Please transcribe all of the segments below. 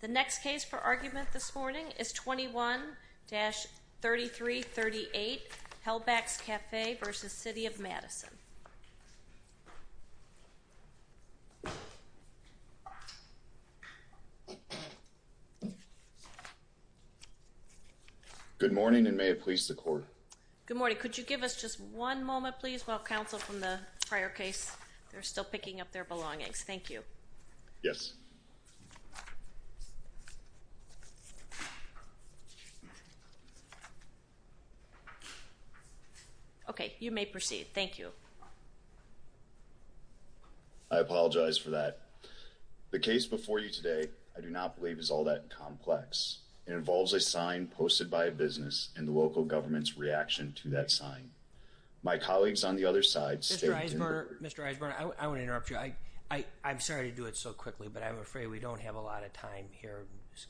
The next case for argument this morning is 21-3338 Helbachs Cafe v. City of Madison. Good morning and may it please the court. Good morning. Could you give us just one moment please while counsel from the prior case, they're still Yes. Okay, you may proceed. Thank you. I apologize for that. The case before you today, I do not believe is all that complex. It involves a sign posted by a business and the local government's reaction to that sign. My colleagues on the other side, Mr. Eisbrenner, I want to interrupt you. I, I, I'm sorry to do it so quickly, but I'm afraid we don't have a lot of time here.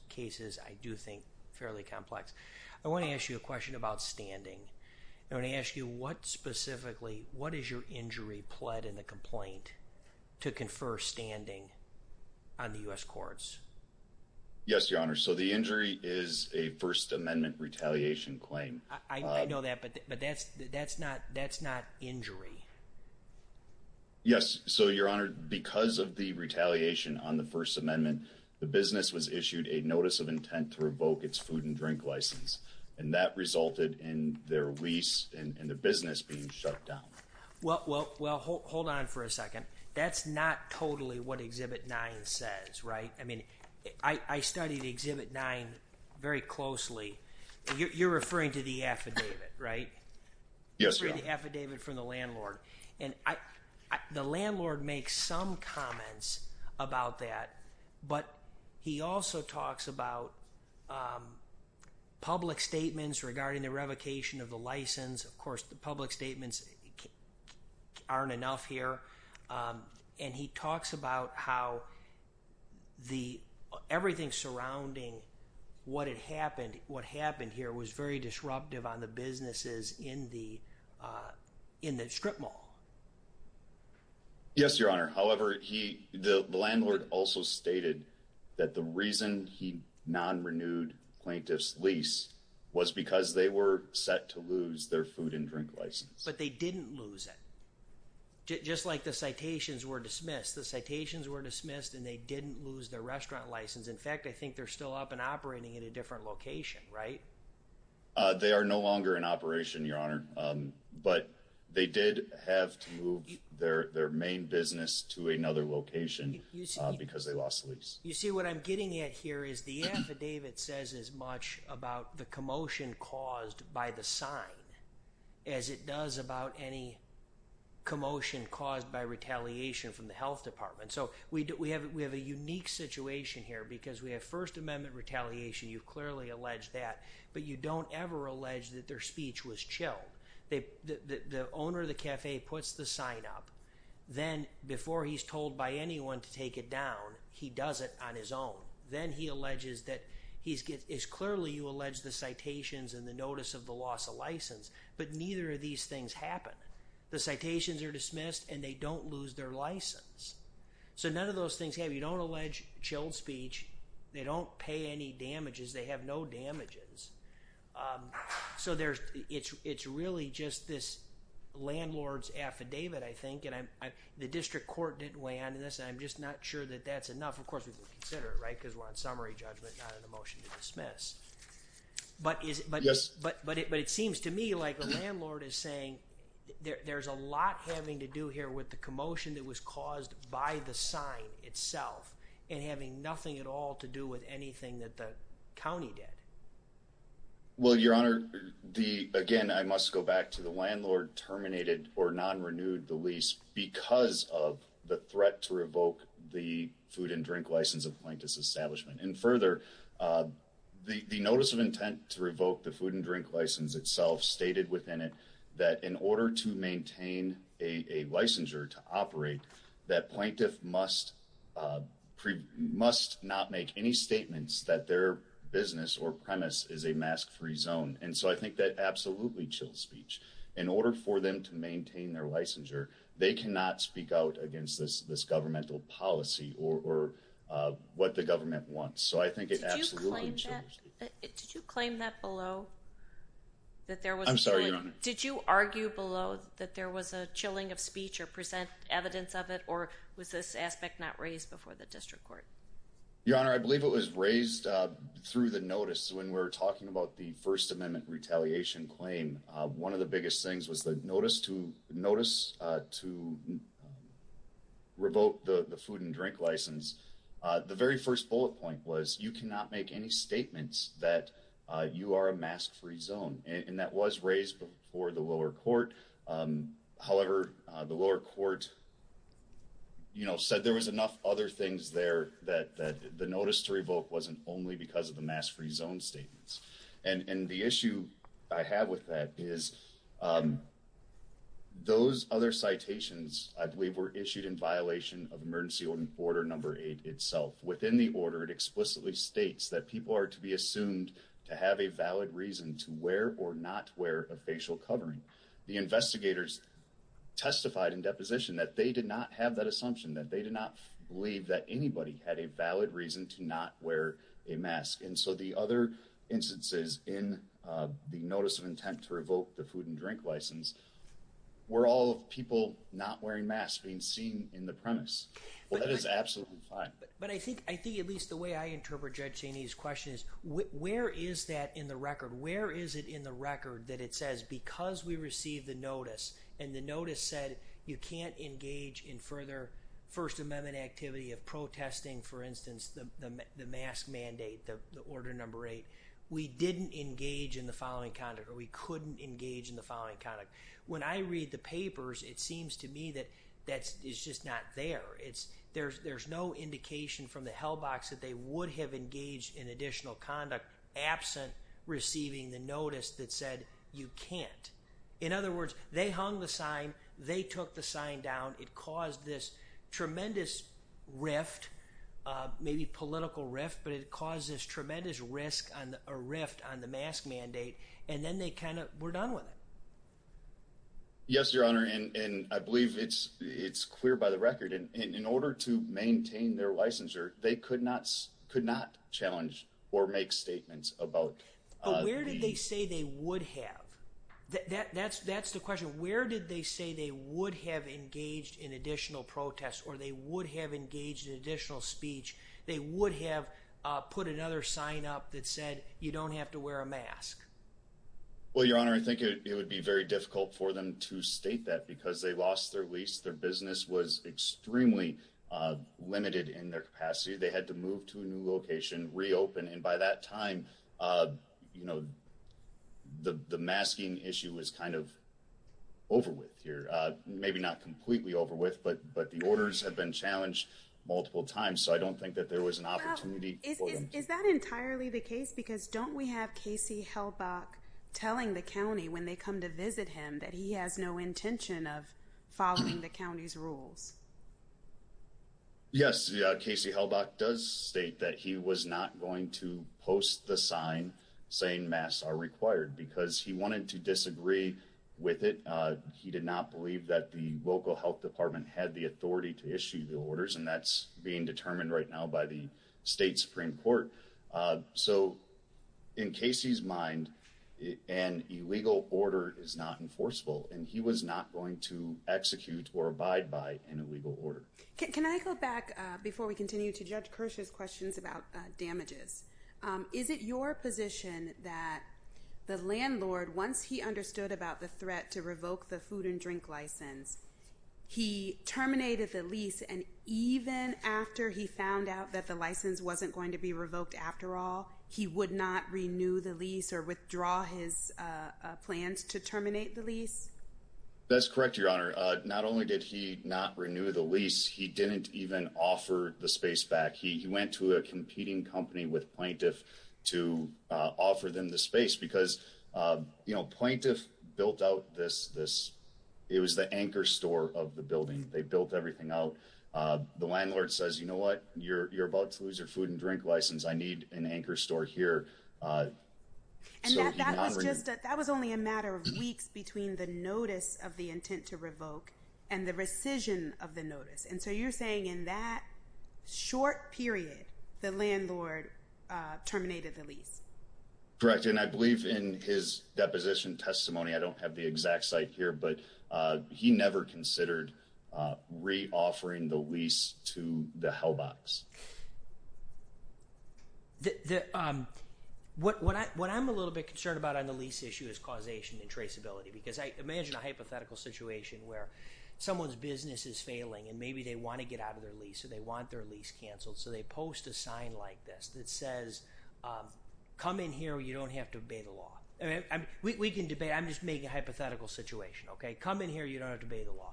Cases. I do think fairly complex. I want to ask you a question about standing. I want to ask you what specifically, what is your injury pled in the complaint to confer standing on the U.S. courts? Yes, your honor. So the injury is a first amendment retaliation claim. I know that, but, but that's, that's not, that's not injury. Yes. So your honor, because of the retaliation on the first amendment, the business was issued a notice of intent to revoke its food and drink license. And that resulted in their lease and the business being shut down. Well, well, well, hold on for a second. That's not totally what exhibit nine says, right? I mean, I studied exhibit nine very closely. You're referring to the affidavit, right? Yes. The affidavit from the landlord and I, the landlord makes some comments about that, but he also talks about, um, public statements regarding the revocation of the license. Of course, the public statements aren't enough here. Um, and he talks about how the, everything surrounding what had happened, what happened here was very disruptive on the businesses in the, uh, in the strip mall. Yes, your honor. However, he, the landlord also stated that the reason he non-renewed plaintiff's lease was because they were set to lose their food and drink license. But they didn't lose it. Just like the citations were dismissed, the citations were dismissed and they didn't lose their restaurant license. In fact, I think they're still up and operating in a different location, right? Uh, they are no longer in operation, your honor. Um, but they did have to move their, their main business to another location because they lost the lease. You see what I'm getting at here is the affidavit says as much about the commotion caused by the sign as it does about any commotion caused by retaliation from the health department. So we do, we have, we have a unique situation here because we have first amendment retaliation. You've clearly alleged that, but you don't ever allege that their speech was chill. They, the, the, the owner of the cafe puts the sign up, then before he's told by anyone to take it down, he does it on his own. Then he alleges that he's get is clearly you allege the citations and the notice of the loss of license, but neither of these things happen. The citations are dismissed and they don't lose their license. So none of those things have, you don't allege chilled speech. They don't pay any damages. They have no damages. Um, so there's, it's, it's really just this landlord's affidavit, I think. And I'm, I, the district court didn't weigh on this and I'm just not sure that that's enough. Of course we would consider it, right? Cause we're on summary judgment, not in a motion to dismiss, but is, but, but, but it, but it seems to me like the landlord is saying there, there's a lot having to do here with the commotion that was caused by the sign itself and having nothing at all to do with anything that the county did. Well, Your Honor, the, again, I must go back to the landlord terminated or non renewed the lease because of the threat to revoke the food and drink license of plaintiff's establishment. And further, uh, the, the notice of intent to revoke the food and drink license itself stated within it that in order to maintain a licensure to operate, that plaintiff must, uh, must not make any statements that their business or premise. Is a mask free zone. And so I think that absolutely chills speech in order for them to maintain their licensure. They cannot speak out against this, this governmental policy or, or, uh, what the government wants. So I think it absolutely should claim that below that there was, I'm sorry, Your Honor, did you argue below that there was a chilling of speech or present evidence of it? Or was this aspect not raised before the district court? Your Honor, I believe it was raised, uh, through the notice. So when we're talking about the 1st amendment retaliation claim, uh, 1 of the biggest things was the notice to notice, uh, to revoke the food and drink license. Uh, the very 1st bullet point was, you cannot make any statements that, uh, you are a mask free zone and that was raised before the lower court. Um, however, uh, the lower court, you know, said there was enough other things there that, that the notice to revoke wasn't only because of the mask free zone statements. And, and the issue I have with that is, um, those other citations, I believe were issued in violation of emergency order number 8 itself within the order. It explicitly states that people are to be assumed to have a valid reason to wear or not wear a facial covering. The investigators testified in deposition that they did not have that assumption, that they did not believe that anybody had a valid reason to not wear a mask. And so the other instances in, uh, the notice of intent to revoke the food and drink license were all of people not wearing masks being seen in the premise. Well, that is absolutely fine. But I think, I think at least the way I interpret Judge Cheney's question is where is that in the record? Where is it in the record that it says because we received the notice and the notice said you can't engage in further First Amendment activity of protesting, for instance, the mask mandate, the order number 8, we didn't engage in the following conduct or we couldn't engage in the following conduct. When I read the papers, it seems to me that that's, it's just not there. It's, there's, there's no indication from the hell box that they would have engaged in additional conduct absent receiving the notice that said you can't. In other words, they hung the sign, they took the sign down. It caused this tremendous rift, uh, maybe political rift, but it caused this tremendous risk on a rift on the mask mandate. And then they kind of were done with it. Yes, Your Honor. And I believe it's, it's clear by the record and in order to maintain their licensure, they could not, could not challenge or make statements about where did they say they would have? That that's, that's the question. Where did they say they would have engaged in additional protests or they would have engaged in additional speech? They would have put another sign up that said, you don't have to wear a mask. Well, Your Honor, I think it would be very difficult for them to state that because they lost their lease. Their business was extremely, uh, limited in their capacity. They had to move to a new location, reopen. And by that time, uh, you know, the, the masking issue was kind of over with here. Uh, maybe not completely over with, but, but the orders have been challenged multiple times. So I don't think that there was an opportunity. Is that entirely the case? Because don't we have Casey Helbach telling the county when they come to visit him that he has no intention of following the county's rules? Yes, Casey Helbach does state that he was not going to post the sign saying masks are required because he wanted to disagree with it. Uh, he did not believe that the local health department had the authority to issue the orders. And that's being determined right now by the state Supreme Court. Uh, so in Casey's mind, an illegal order is not enforceable and he was not going to execute or abide by an illegal order. Can I go back before we continue to Judge Kirsch's questions about damages? Um, is it your position that the landlord, once he understood about the threat to revoke the food and drink license, he terminated the lease? And even after he found out that the license wasn't going to be revoked after all, he would not renew the lease or withdraw his plans to terminate the lease? That's correct, Your Honor. Uh, not only did he not renew the lease, he didn't even offer the space back. He went to a competing company with plaintiff to offer them the space because, uh, you know, plaintiff built out this, this, it was the anchor store of the building. They built everything out. Uh, the landlord says, you know what, you're, you're about to lose your food and drink license. I need an anchor store here. Uh, so he not renew. That was only a matter of weeks between the notice of the intent to revoke and the rescission of the notice. And so you're saying in that short period, the landlord, uh, terminated the lease? Correct. And I believe in his deposition testimony, I don't have the exact site here, but, uh, he never considered, uh, re-offering the lease to the Hellbox. The, the, um, what, what I, what I'm a little bit concerned about on the lease issue is causation and traceability. Because I imagine a hypothetical situation where someone's business is failing and maybe they want to get out of their lease or they want their lease canceled. So they post a sign like this that says, um, come in here. You don't have to obey the law. I mean, we can debate. I'm just making a hypothetical situation. Okay. Come in here. You don't have to obey the law.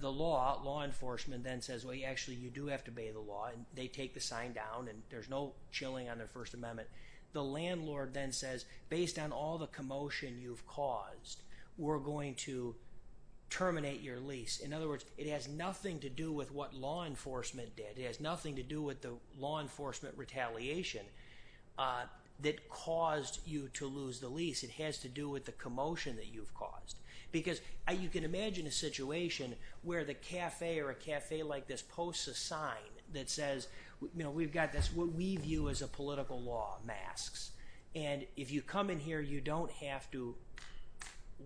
The law, law enforcement then says, well, you actually, you do have to obey the law. And they take the sign down and there's no chilling on their first amendment. The landlord then says, based on all the commotion you've caused, we're going to terminate your lease. In other words, it has nothing to do with what law enforcement did. It has nothing to do with the law enforcement retaliation, uh, that caused you to lose the lease. It has to do with the commotion that you've caused. Because you can imagine a situation where the cafe or a cafe like this posts a sign that says, you know, we've got this, what we view as a political law. And if you come in here, you don't have to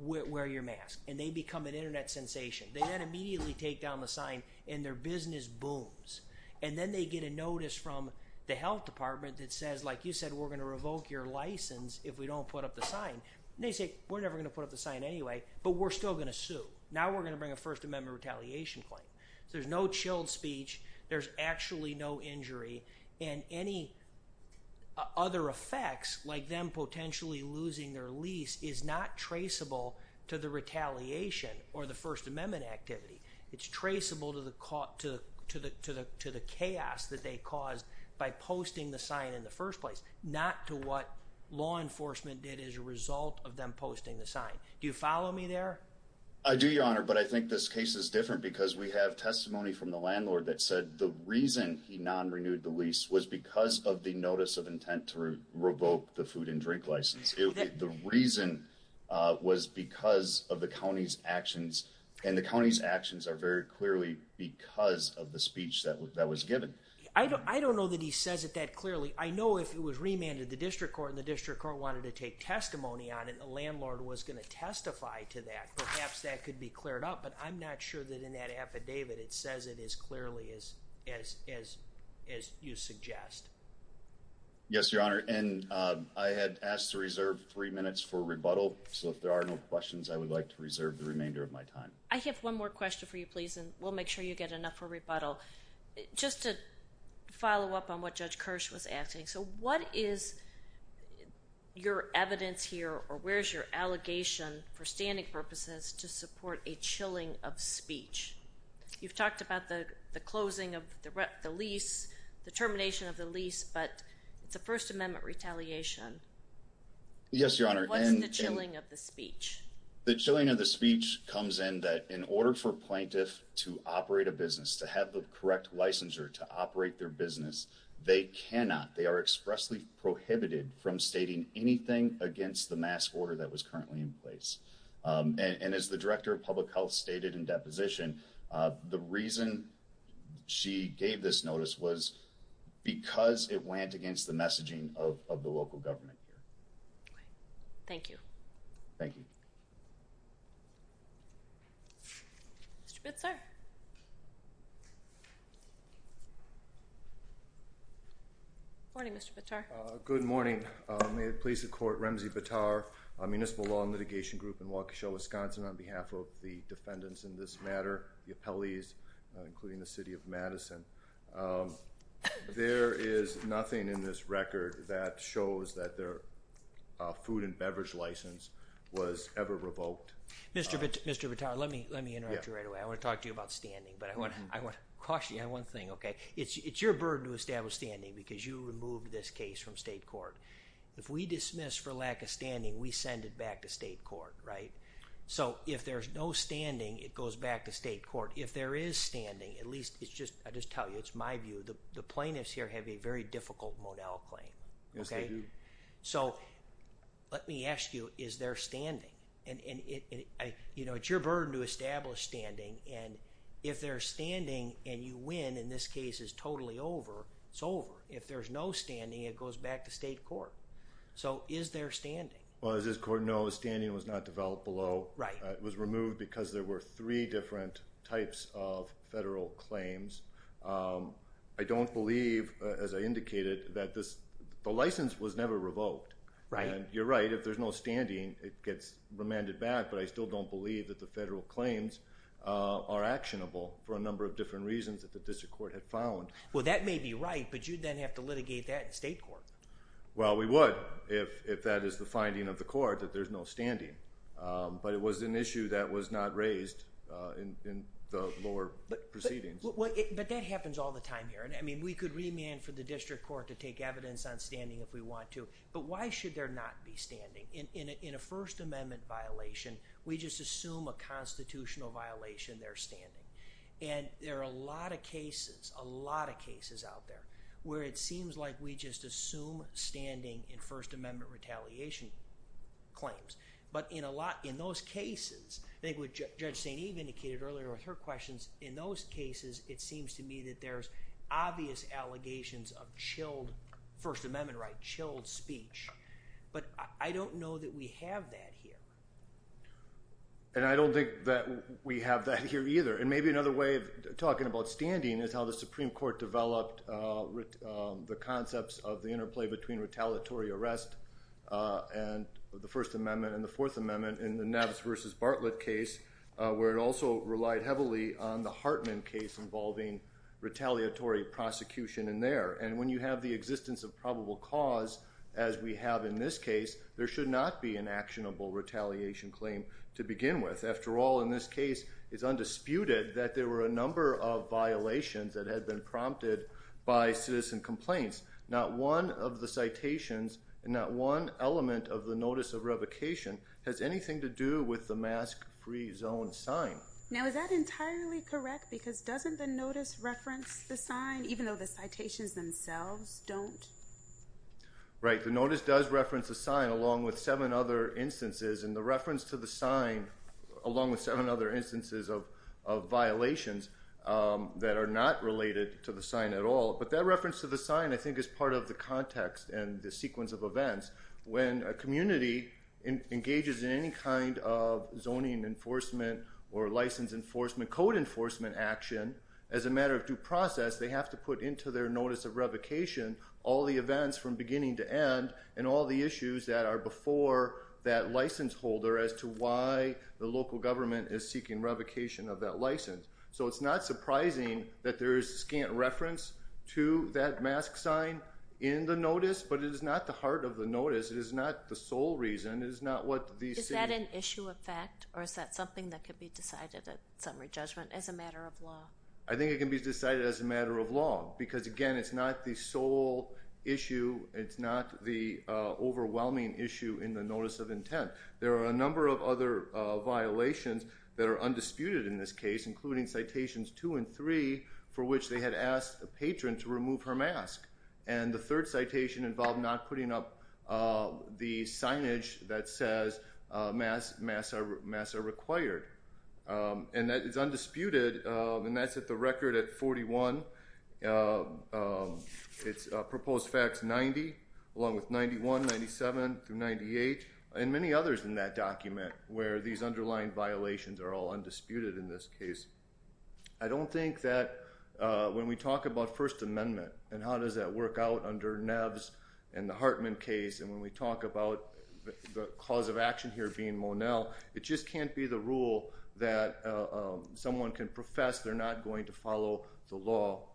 wear your mask. And they become an internet sensation. They then immediately take down the sign and their business booms. And then they get a notice from the health department that says, like you said, we're going to revoke your license if we don't put up the sign. And they say, we're never going to put up the sign anyway, but we're still going to sue. Now we're going to bring a first amendment retaliation claim. So there's no chilled speech. There's actually no injury. And any other effects like them potentially losing their lease is not traceable to the retaliation or the first amendment activity. It's traceable to the chaos that they caused by posting the sign in the first place, not to what law enforcement did as a result of them posting the sign. Do you follow me there? I do, Your Honor, but I think this case is different because we have testimony from the landlord that said the reason he non-renewed the lease was because of the notice of intent to revoke the food and drink license. The reason was because of the county's actions and the county's actions are very clearly because of the speech that was given. I don't know that he says it that clearly. I know if it was remanded, the district court and the district court wanted to take testimony on it. The landlord was going to testify to that. Perhaps that could be cleared up, but I'm not sure that in that affidavit it says it as clearly as as as as you suggest. Yes, Your Honor, and I had asked to reserve three minutes for rebuttal. So if there are no questions, I would like to reserve the remainder of my time. I have one more question for you, please, and we'll make sure you get enough for rebuttal. Just to follow up on what Judge Kirsch was asking. So what is your evidence here or where's your allegation for standing purposes to support a chilling of speech? You've talked about the closing of the lease, the termination of the lease, but it's a First Amendment retaliation. Yes, Your Honor. What's the chilling of the speech? The chilling of the speech comes in that in order for plaintiff to operate a business, to have the correct licensure to operate their business, they cannot. They are expressly prohibited from stating anything against the mass order that was currently in place. And as the director of public health stated in deposition, the reason she gave this notice was because it went against the messaging of the local government here. Thank you. Thank you. Mr. Bitzer. Morning, Mr. Bittar. Good morning. May it please the court, Ramsey Bittar, Municipal Law and Litigation Group in Waukesha, Wisconsin, on behalf of the defendants in this matter, the appellees, including the city of Madison. There is nothing in this record that shows that their food and beverage license was ever revoked. Mr. Bittar, let me let me interrupt you right away. I want to talk to you about standing, but I want to caution you on one thing. It's your burden to establish standing because you removed this case from state court. If we dismiss for lack of standing, we send it back to state court. Right. So if there's no standing, it goes back to state court. If there is standing, at least it's just I just tell you, it's my view, the plaintiffs here have a very difficult Monell claim. Yes, they do. So let me ask you, is there standing? And, you know, it's your burden to establish standing. And if they're standing and you win in this case is totally over, it's over. If there's no standing, it goes back to state court. So is there standing? Well, as this court knows, standing was not developed below. Right. It was removed because there were three different types of federal claims. I don't believe, as I indicated, that the license was never revoked. Right. And you're right, if there's no standing, it gets remanded back. But I still don't believe that the federal claims are actionable for a number of different reasons that the district court had found. Well, that may be right. But you then have to litigate that in state court. Well, we would if that is the finding of the court, that there's no standing. But it was an issue that was not raised in the lower proceedings. But that happens all the time here. And I mean, we could remand for the district court to take evidence on standing if we want to. But why should there not be standing in a First Amendment violation? We just assume a constitutional violation. They're standing. And there are a lot of cases, a lot of cases out there where it seems like we just assume standing in First Amendment retaliation claims. But in a lot in those cases, I think what Judge St. Eve indicated earlier with her questions, in those cases, it seems to me that there's obvious allegations of chilled First Amendment right. Chilled speech. But I don't know that we have that here. And I don't think that we have that here either. And maybe another way of talking about standing is how the Supreme Court developed the concepts of the interplay between retaliatory arrest and the First Amendment and the Fourth Amendment in the Navitz versus Bartlett case, where it also relied heavily on the Hartman case involving retaliatory prosecution in there. And when you have the existence of probable cause, as we have in this case, there should not be an actionable retaliation claim to begin with. After all, in this case, it's undisputed that there were a number of violations that had been prompted by citizen complaints. Not one of the citations and not one element of the notice of revocation has anything to do with the mask free zone sign. Now, is that entirely correct? Because doesn't the notice reference the sign, even though the citations themselves don't? Right. The notice does reference the sign along with seven other instances. And the reference to the sign, along with seven other instances of violations that are not related to the sign at all. But that reference to the sign, I think, is part of the context and the sequence of events. When a community engages in any kind of zoning enforcement or license enforcement, code enforcement action, as a matter of due process, they have to put into their notice of revocation all the events from beginning to end and all the issues that are before that license holder as to why the local government is seeking revocation of that license. So it's not surprising that there is a scant reference to that mask sign in the notice, but it is not the heart of the notice. It is not the sole reason. It is not what the city... Is that an issue of fact or is that something that could be decided at summary judgment as a matter of law? I think it can be decided as a matter of law because, again, it's not the sole issue. It's not the overwhelming issue in the notice of intent. There are a number of other violations that are undisputed in this case, including citations two and three, for which they had asked a patron to remove her mask. And the third citation involved not putting up the signage that says masks are required. And that is undisputed. And that's at the record at 41. It's proposed facts 90, along with 91, 97 through 98 and many others in that document where these underlying violations are all undisputed in this case. I don't think that when we talk about First Amendment and how does that work out under Nevs and the Hartman case, and when we talk about the cause of action here being Monell, it just can't be the rule that someone can profess they're not going to follow the law.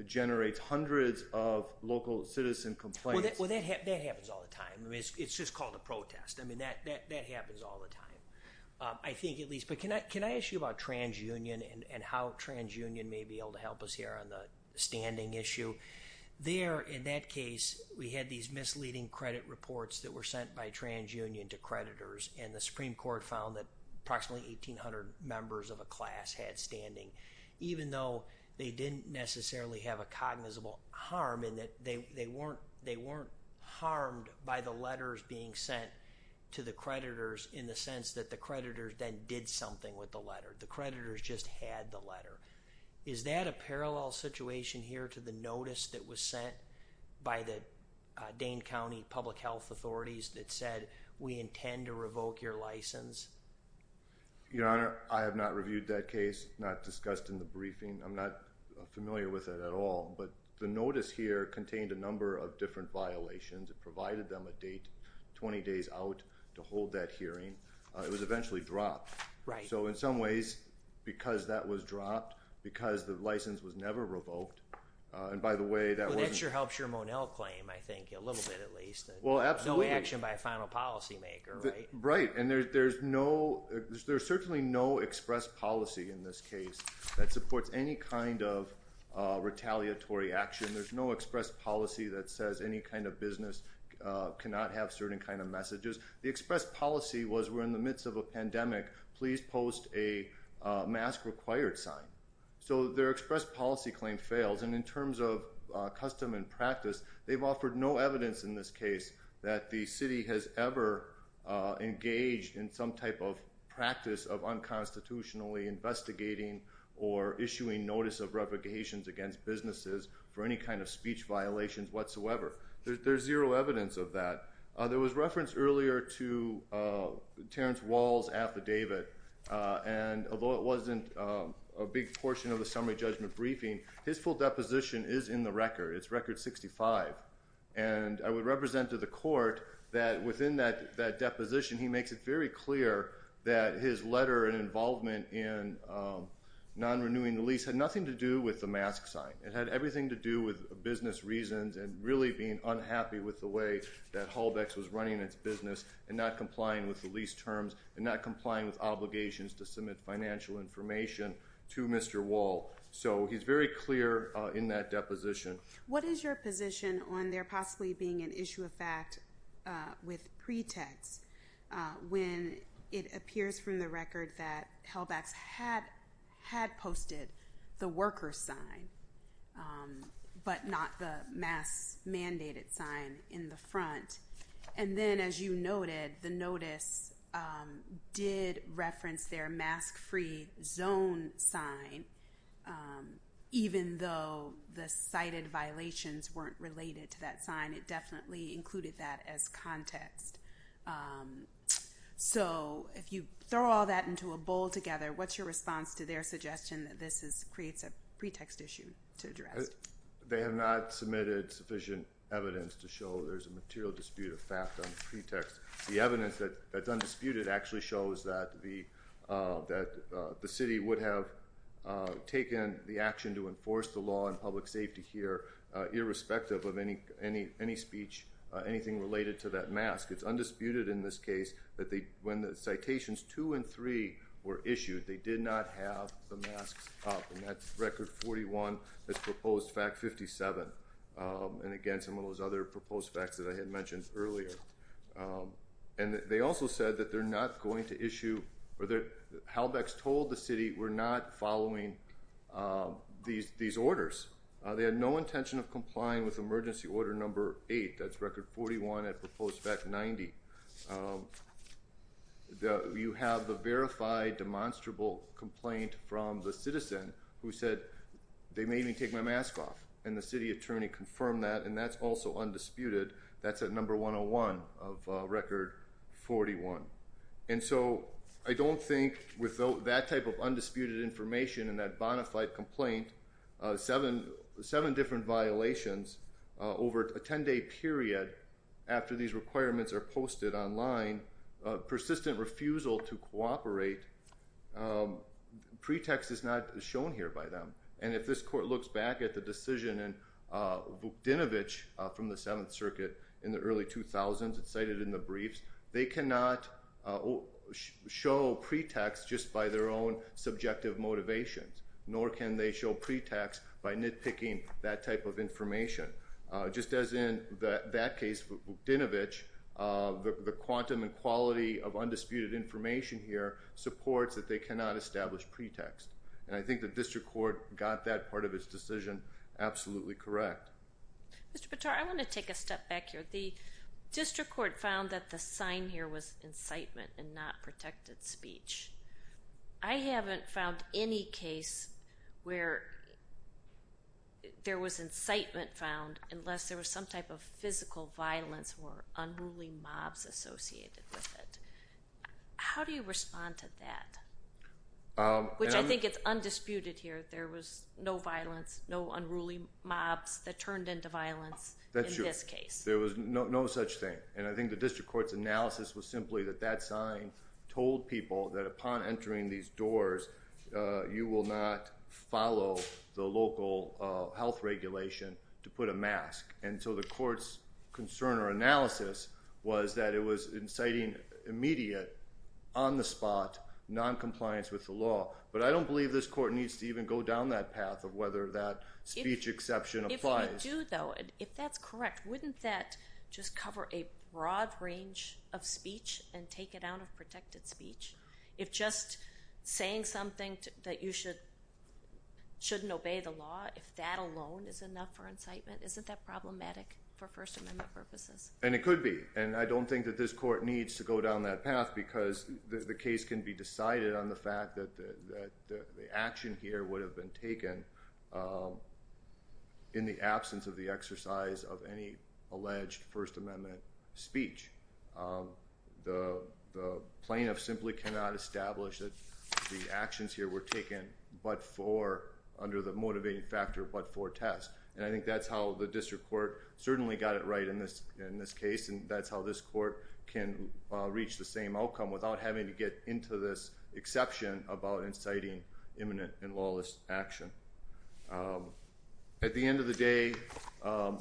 It generates hundreds of local citizen complaints. Well, that happens all the time. It's just called a protest. I mean, that happens all the time, I think at least. But can I ask you about TransUnion and how TransUnion may be able to help us here on the standing issue? There, in that case, we had these misleading credit reports that were sent by TransUnion to creditors, and the Supreme Court found that approximately 1,800 members of a class had standing. Even though they didn't necessarily have a cognizable harm in that they weren't harmed by the letters being sent to the creditors in the sense that the creditors then did something with the letter. The creditors just had the letter. Is that a parallel situation here to the notice that was sent by the Dane County Public Health authorities that said, we intend to revoke your license? Your Honor, I have not reviewed that case, not discussed in the briefing. I'm not familiar with it at all. But the notice here contained a number of different violations. It provided them a date, 20 days out, to hold that hearing. It was eventually dropped. Right. So in some ways, because that was dropped, because the license was never revoked, and by the way, that wasn't... Well, that sure helps your Monell claim, I think, a little bit at least. Well, absolutely. No action by a final policymaker, right? Right. And there's certainly no express policy in this case that supports any kind of retaliatory action. There's no express policy that says any kind of business cannot have certain kind of messages. The express policy was, we're in the midst of a pandemic. Please post a mask required sign. So their express policy claim fails. And in terms of custom and practice, they've offered no evidence in this case that the city has ever engaged in some type of practice of unconstitutionally investigating or issuing notice of revocations against businesses for any kind of speech violations whatsoever. There's zero evidence of that. There was reference earlier to Terrence Wall's affidavit. And although it wasn't a big portion of the summary judgment briefing, his full deposition is in the record. It's record 65. And I would represent to the court that within that deposition, he makes it very clear that his letter and involvement in non-renewing the lease had nothing to do with the mask sign. It had everything to do with business reasons and really being unhappy with the way that Halbex was running its business and not complying with the lease terms and not complying with obligations to submit financial information to Mr. Wall. So he's very clear in that deposition. What is your position on there possibly being an issue of fact with pretext when it appears from the record that Halbex had posted the worker sign but not the mask mandated sign in the front? And then as you noted, the notice did reference their mask free zone sign, even though the cited violations weren't related to that sign. It definitely included that as context. So if you throw all that into a bowl together, what's your response to their suggestion that this creates a pretext issue to address? They have not submitted sufficient evidence to show there's a material dispute of fact on the pretext. The evidence that that's undisputed actually shows that the that the city would have taken the action to enforce the law and public safety here, irrespective of any any any speech, anything related to that mask. It's undisputed in this case that they when the citations two and three were issued, they did not have the masks up. And that's record 41 that's proposed fact 57. And again, some of those other proposed facts that I had mentioned earlier. And they also said that they're not going to issue or their Halbex told the city we're not following these these orders. They had no intention of complying with emergency order number eight. That's record 41. That proposed fact 90 that you have the verified demonstrable complaint from the citizen who said they may even take my mask off and the city attorney confirmed that. And that's also undisputed. That's a number one on one of record 41. And so I don't think without that type of undisputed information and that bonafide complaint, seven, seven different violations over a 10 day period after these requirements are posted online, persistent refusal to cooperate. Pretext is not shown here by them. And if this court looks back at the decision and Dinovich from the Seventh Circuit in the early 2000s, it's cited in the briefs. They cannot show pretext just by their own subjective motivations, nor can they show pretext by nitpicking that type of information. Just as in that case, Dinovich, the quantum and quality of undisputed information here supports that they cannot establish pretext. And I think the district court got that part of its decision. Absolutely correct. Mr. Patar, I want to take a step back here. The district court found that the sign here was incitement and not protected speech. I haven't found any case where there was incitement found unless there was some type of physical violence or unruly mobs associated with it. How do you respond to that? Which I think it's undisputed here. There was no violence, no unruly mobs that turned into violence in this case. There was no such thing. And I think the district court's analysis was simply that that sign told people that upon entering these doors, you will not follow the local health regulation to put a mask. And so the court's concern or analysis was that it was inciting immediate, on the spot, noncompliance with the law. But I don't believe this court needs to even go down that path of whether that speech exception applies. If you do, though, if that's correct, wouldn't that just cover a broad range of speech and take it out of protected speech? If just saying something that you shouldn't obey the law, if that alone is enough for incitement, isn't that problematic for First Amendment purposes? And it could be. And I don't think that this court needs to go down that path because the case can be decided on the fact that the action here would have been taken in the absence of the exercise of any alleged First Amendment speech. The plaintiff simply cannot establish that the actions here were taken but for, under the motivating factor, but for test. And I think that's how the district court certainly got it right in this case. And that's how this court can reach the same outcome without having to get into this exception about inciting imminent and lawless action. At the end of the day,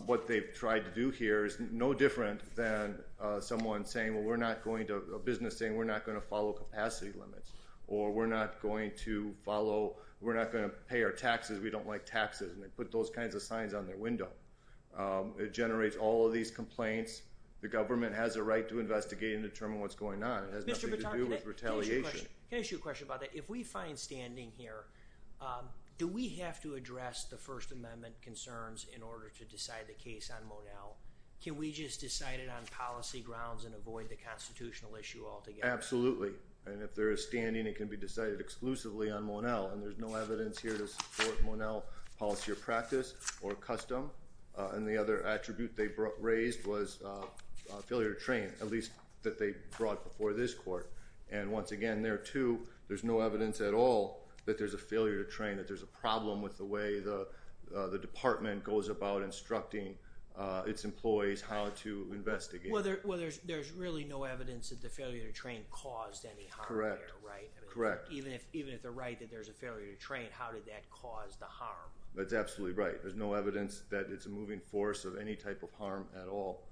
what they've tried to do here is no different than someone saying, well, we're not going to, a business saying, we're not going to follow capacity limits. Or we're not going to follow, we're not going to pay our taxes, we don't like taxes, and they put those kinds of signs on their window. It generates all of these complaints. The government has a right to investigate and determine what's going on. It has nothing to do with retaliation. Can I ask you a question about that? If we find standing here, do we have to address the First Amendment concerns in order to decide the case on Monell? Can we just decide it on policy grounds and avoid the constitutional issue altogether? Absolutely. And if there is standing, it can be decided exclusively on Monell. And there's no evidence here to support Monell policy or practice or custom. And the other attribute they raised was failure to train, at least that they brought before this court. And once again, there too, there's no evidence at all that there's a failure to train, that there's a problem with the way the department goes about instructing its employees how to investigate. Well, there's really no evidence that the failure to train caused any harm there, right? Correct, correct. Even if they're right that there's a failure to train, how did that cause the harm? That's absolutely right. There's no evidence that it's a moving force of any type of harm at all.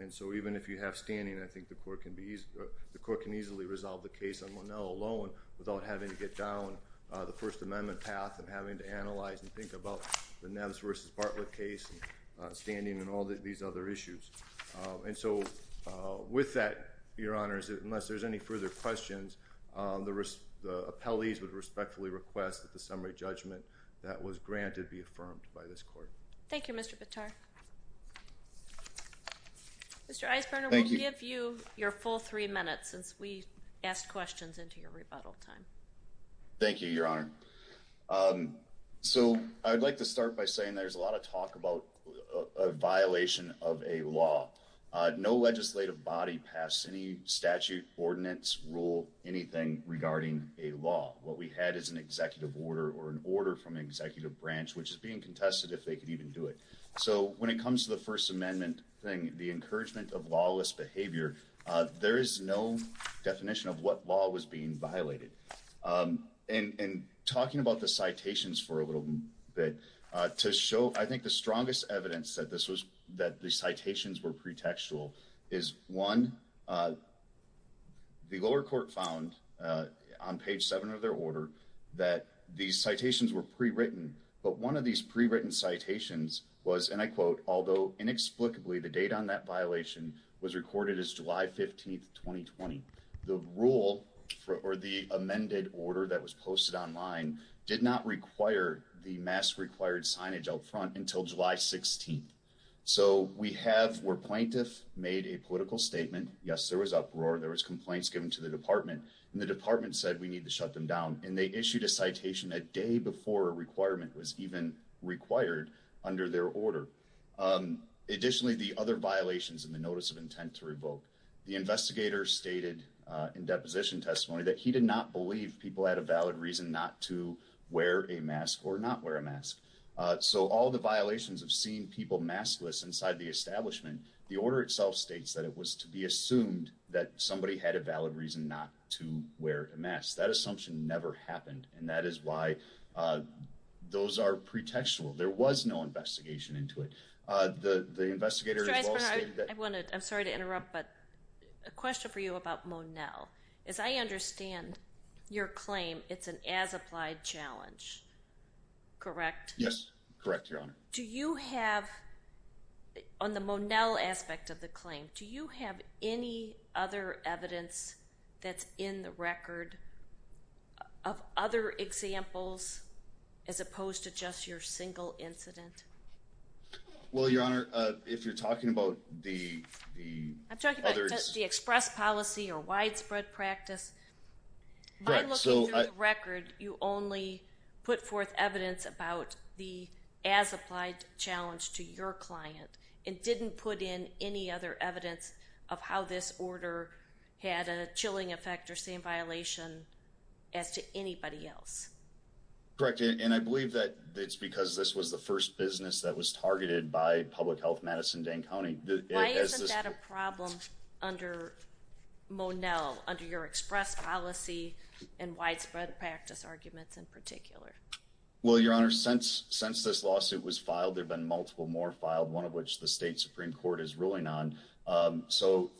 And so even if you have standing, I think the court can easily resolve the case on Monell alone without having to get down the First Amendment path and having to analyze and think about the Nevis v. Bartlett case and standing and all these other issues. And so with that, Your Honor, unless there's any further questions, the appellees would respectfully request that the summary judgment that was granted be affirmed by this court. Thank you, Mr. Pitar. Mr. Eisbrenner, we'll give you your full three minutes since we asked questions into your rebuttal time. Thank you, Your Honor. So I'd like to start by saying there's a lot of talk about a violation of a law. No legislative body passed any statute, ordinance, rule, anything regarding a law. What we had is an executive order or an order from an executive branch, which is being contested if they could even do it. So when it comes to the First Amendment thing, the encouragement of lawless behavior, there is no definition of what law was being violated. And talking about the citations for a little bit, to show, I think, the strongest evidence that the citations were pretextual is, one, the lower court found on page seven of their order that these citations were prewritten, but one of these prewritten citations was, and I quote, although inexplicably, the date on that violation was recorded as July 15th, 2020. The rule or the amended order that was posted online did not require the mass required signage out front until July 16th. So we have, where plaintiff made a political statement, yes, there was uproar, there was complaints given to the department, and the department said, we need to shut them down. And they issued a citation a day before a requirement was even required under their order. Additionally, the other violations in the notice of intent to revoke, the investigator stated in deposition testimony that he did not believe people had a valid reason not to wear a mask or not wear a mask. So all the violations of seeing people maskless inside the establishment, the order itself states that it was to be assumed that somebody had a valid reason not to wear a mask. That assumption never happened, and that is why those are pretextual. There was no investigation into it. The investigator as well stated that- I wanted, I'm sorry to interrupt, but a question for you about Monell. As I understand your claim, it's an as-applied challenge, correct? Yes, correct, Your Honor. Do you have, on the Monell aspect of the claim, do you have any other evidence that's in the record of other examples as opposed to just your single incident? Well, Your Honor, if you're talking about the- I'm talking about the express policy or widespread practice. By looking through the record, you only put forth evidence about the as-applied challenge to your client and didn't put in any other evidence of how this order had a chilling effect or same violation as to anybody else. Correct, and I believe that it's because this was the first business that was targeted by Public Health Madison-Dane County. Why isn't that a problem under Monell, under your express policy and widespread practice arguments in particular? Well, Your Honor, since this lawsuit was filed, there have been multiple more filed, one of which the state Supreme Court is ruling on. So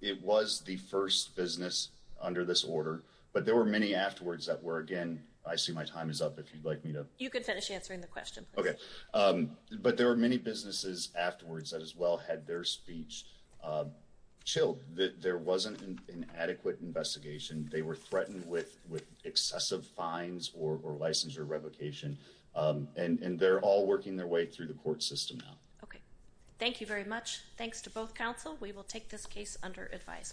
it was the first business under this order, but there were many afterwards that were, again, I see my time is up if you'd like me to- You can finish answering the question, please. Okay, but there were many businesses afterwards that as well had their speech chilled. There wasn't an adequate investigation. They were threatened with excessive fines or licensure revocation, and they're all working their way through the court system now. Okay, thank you very much. Thanks to both counsel. We will take this case under advice.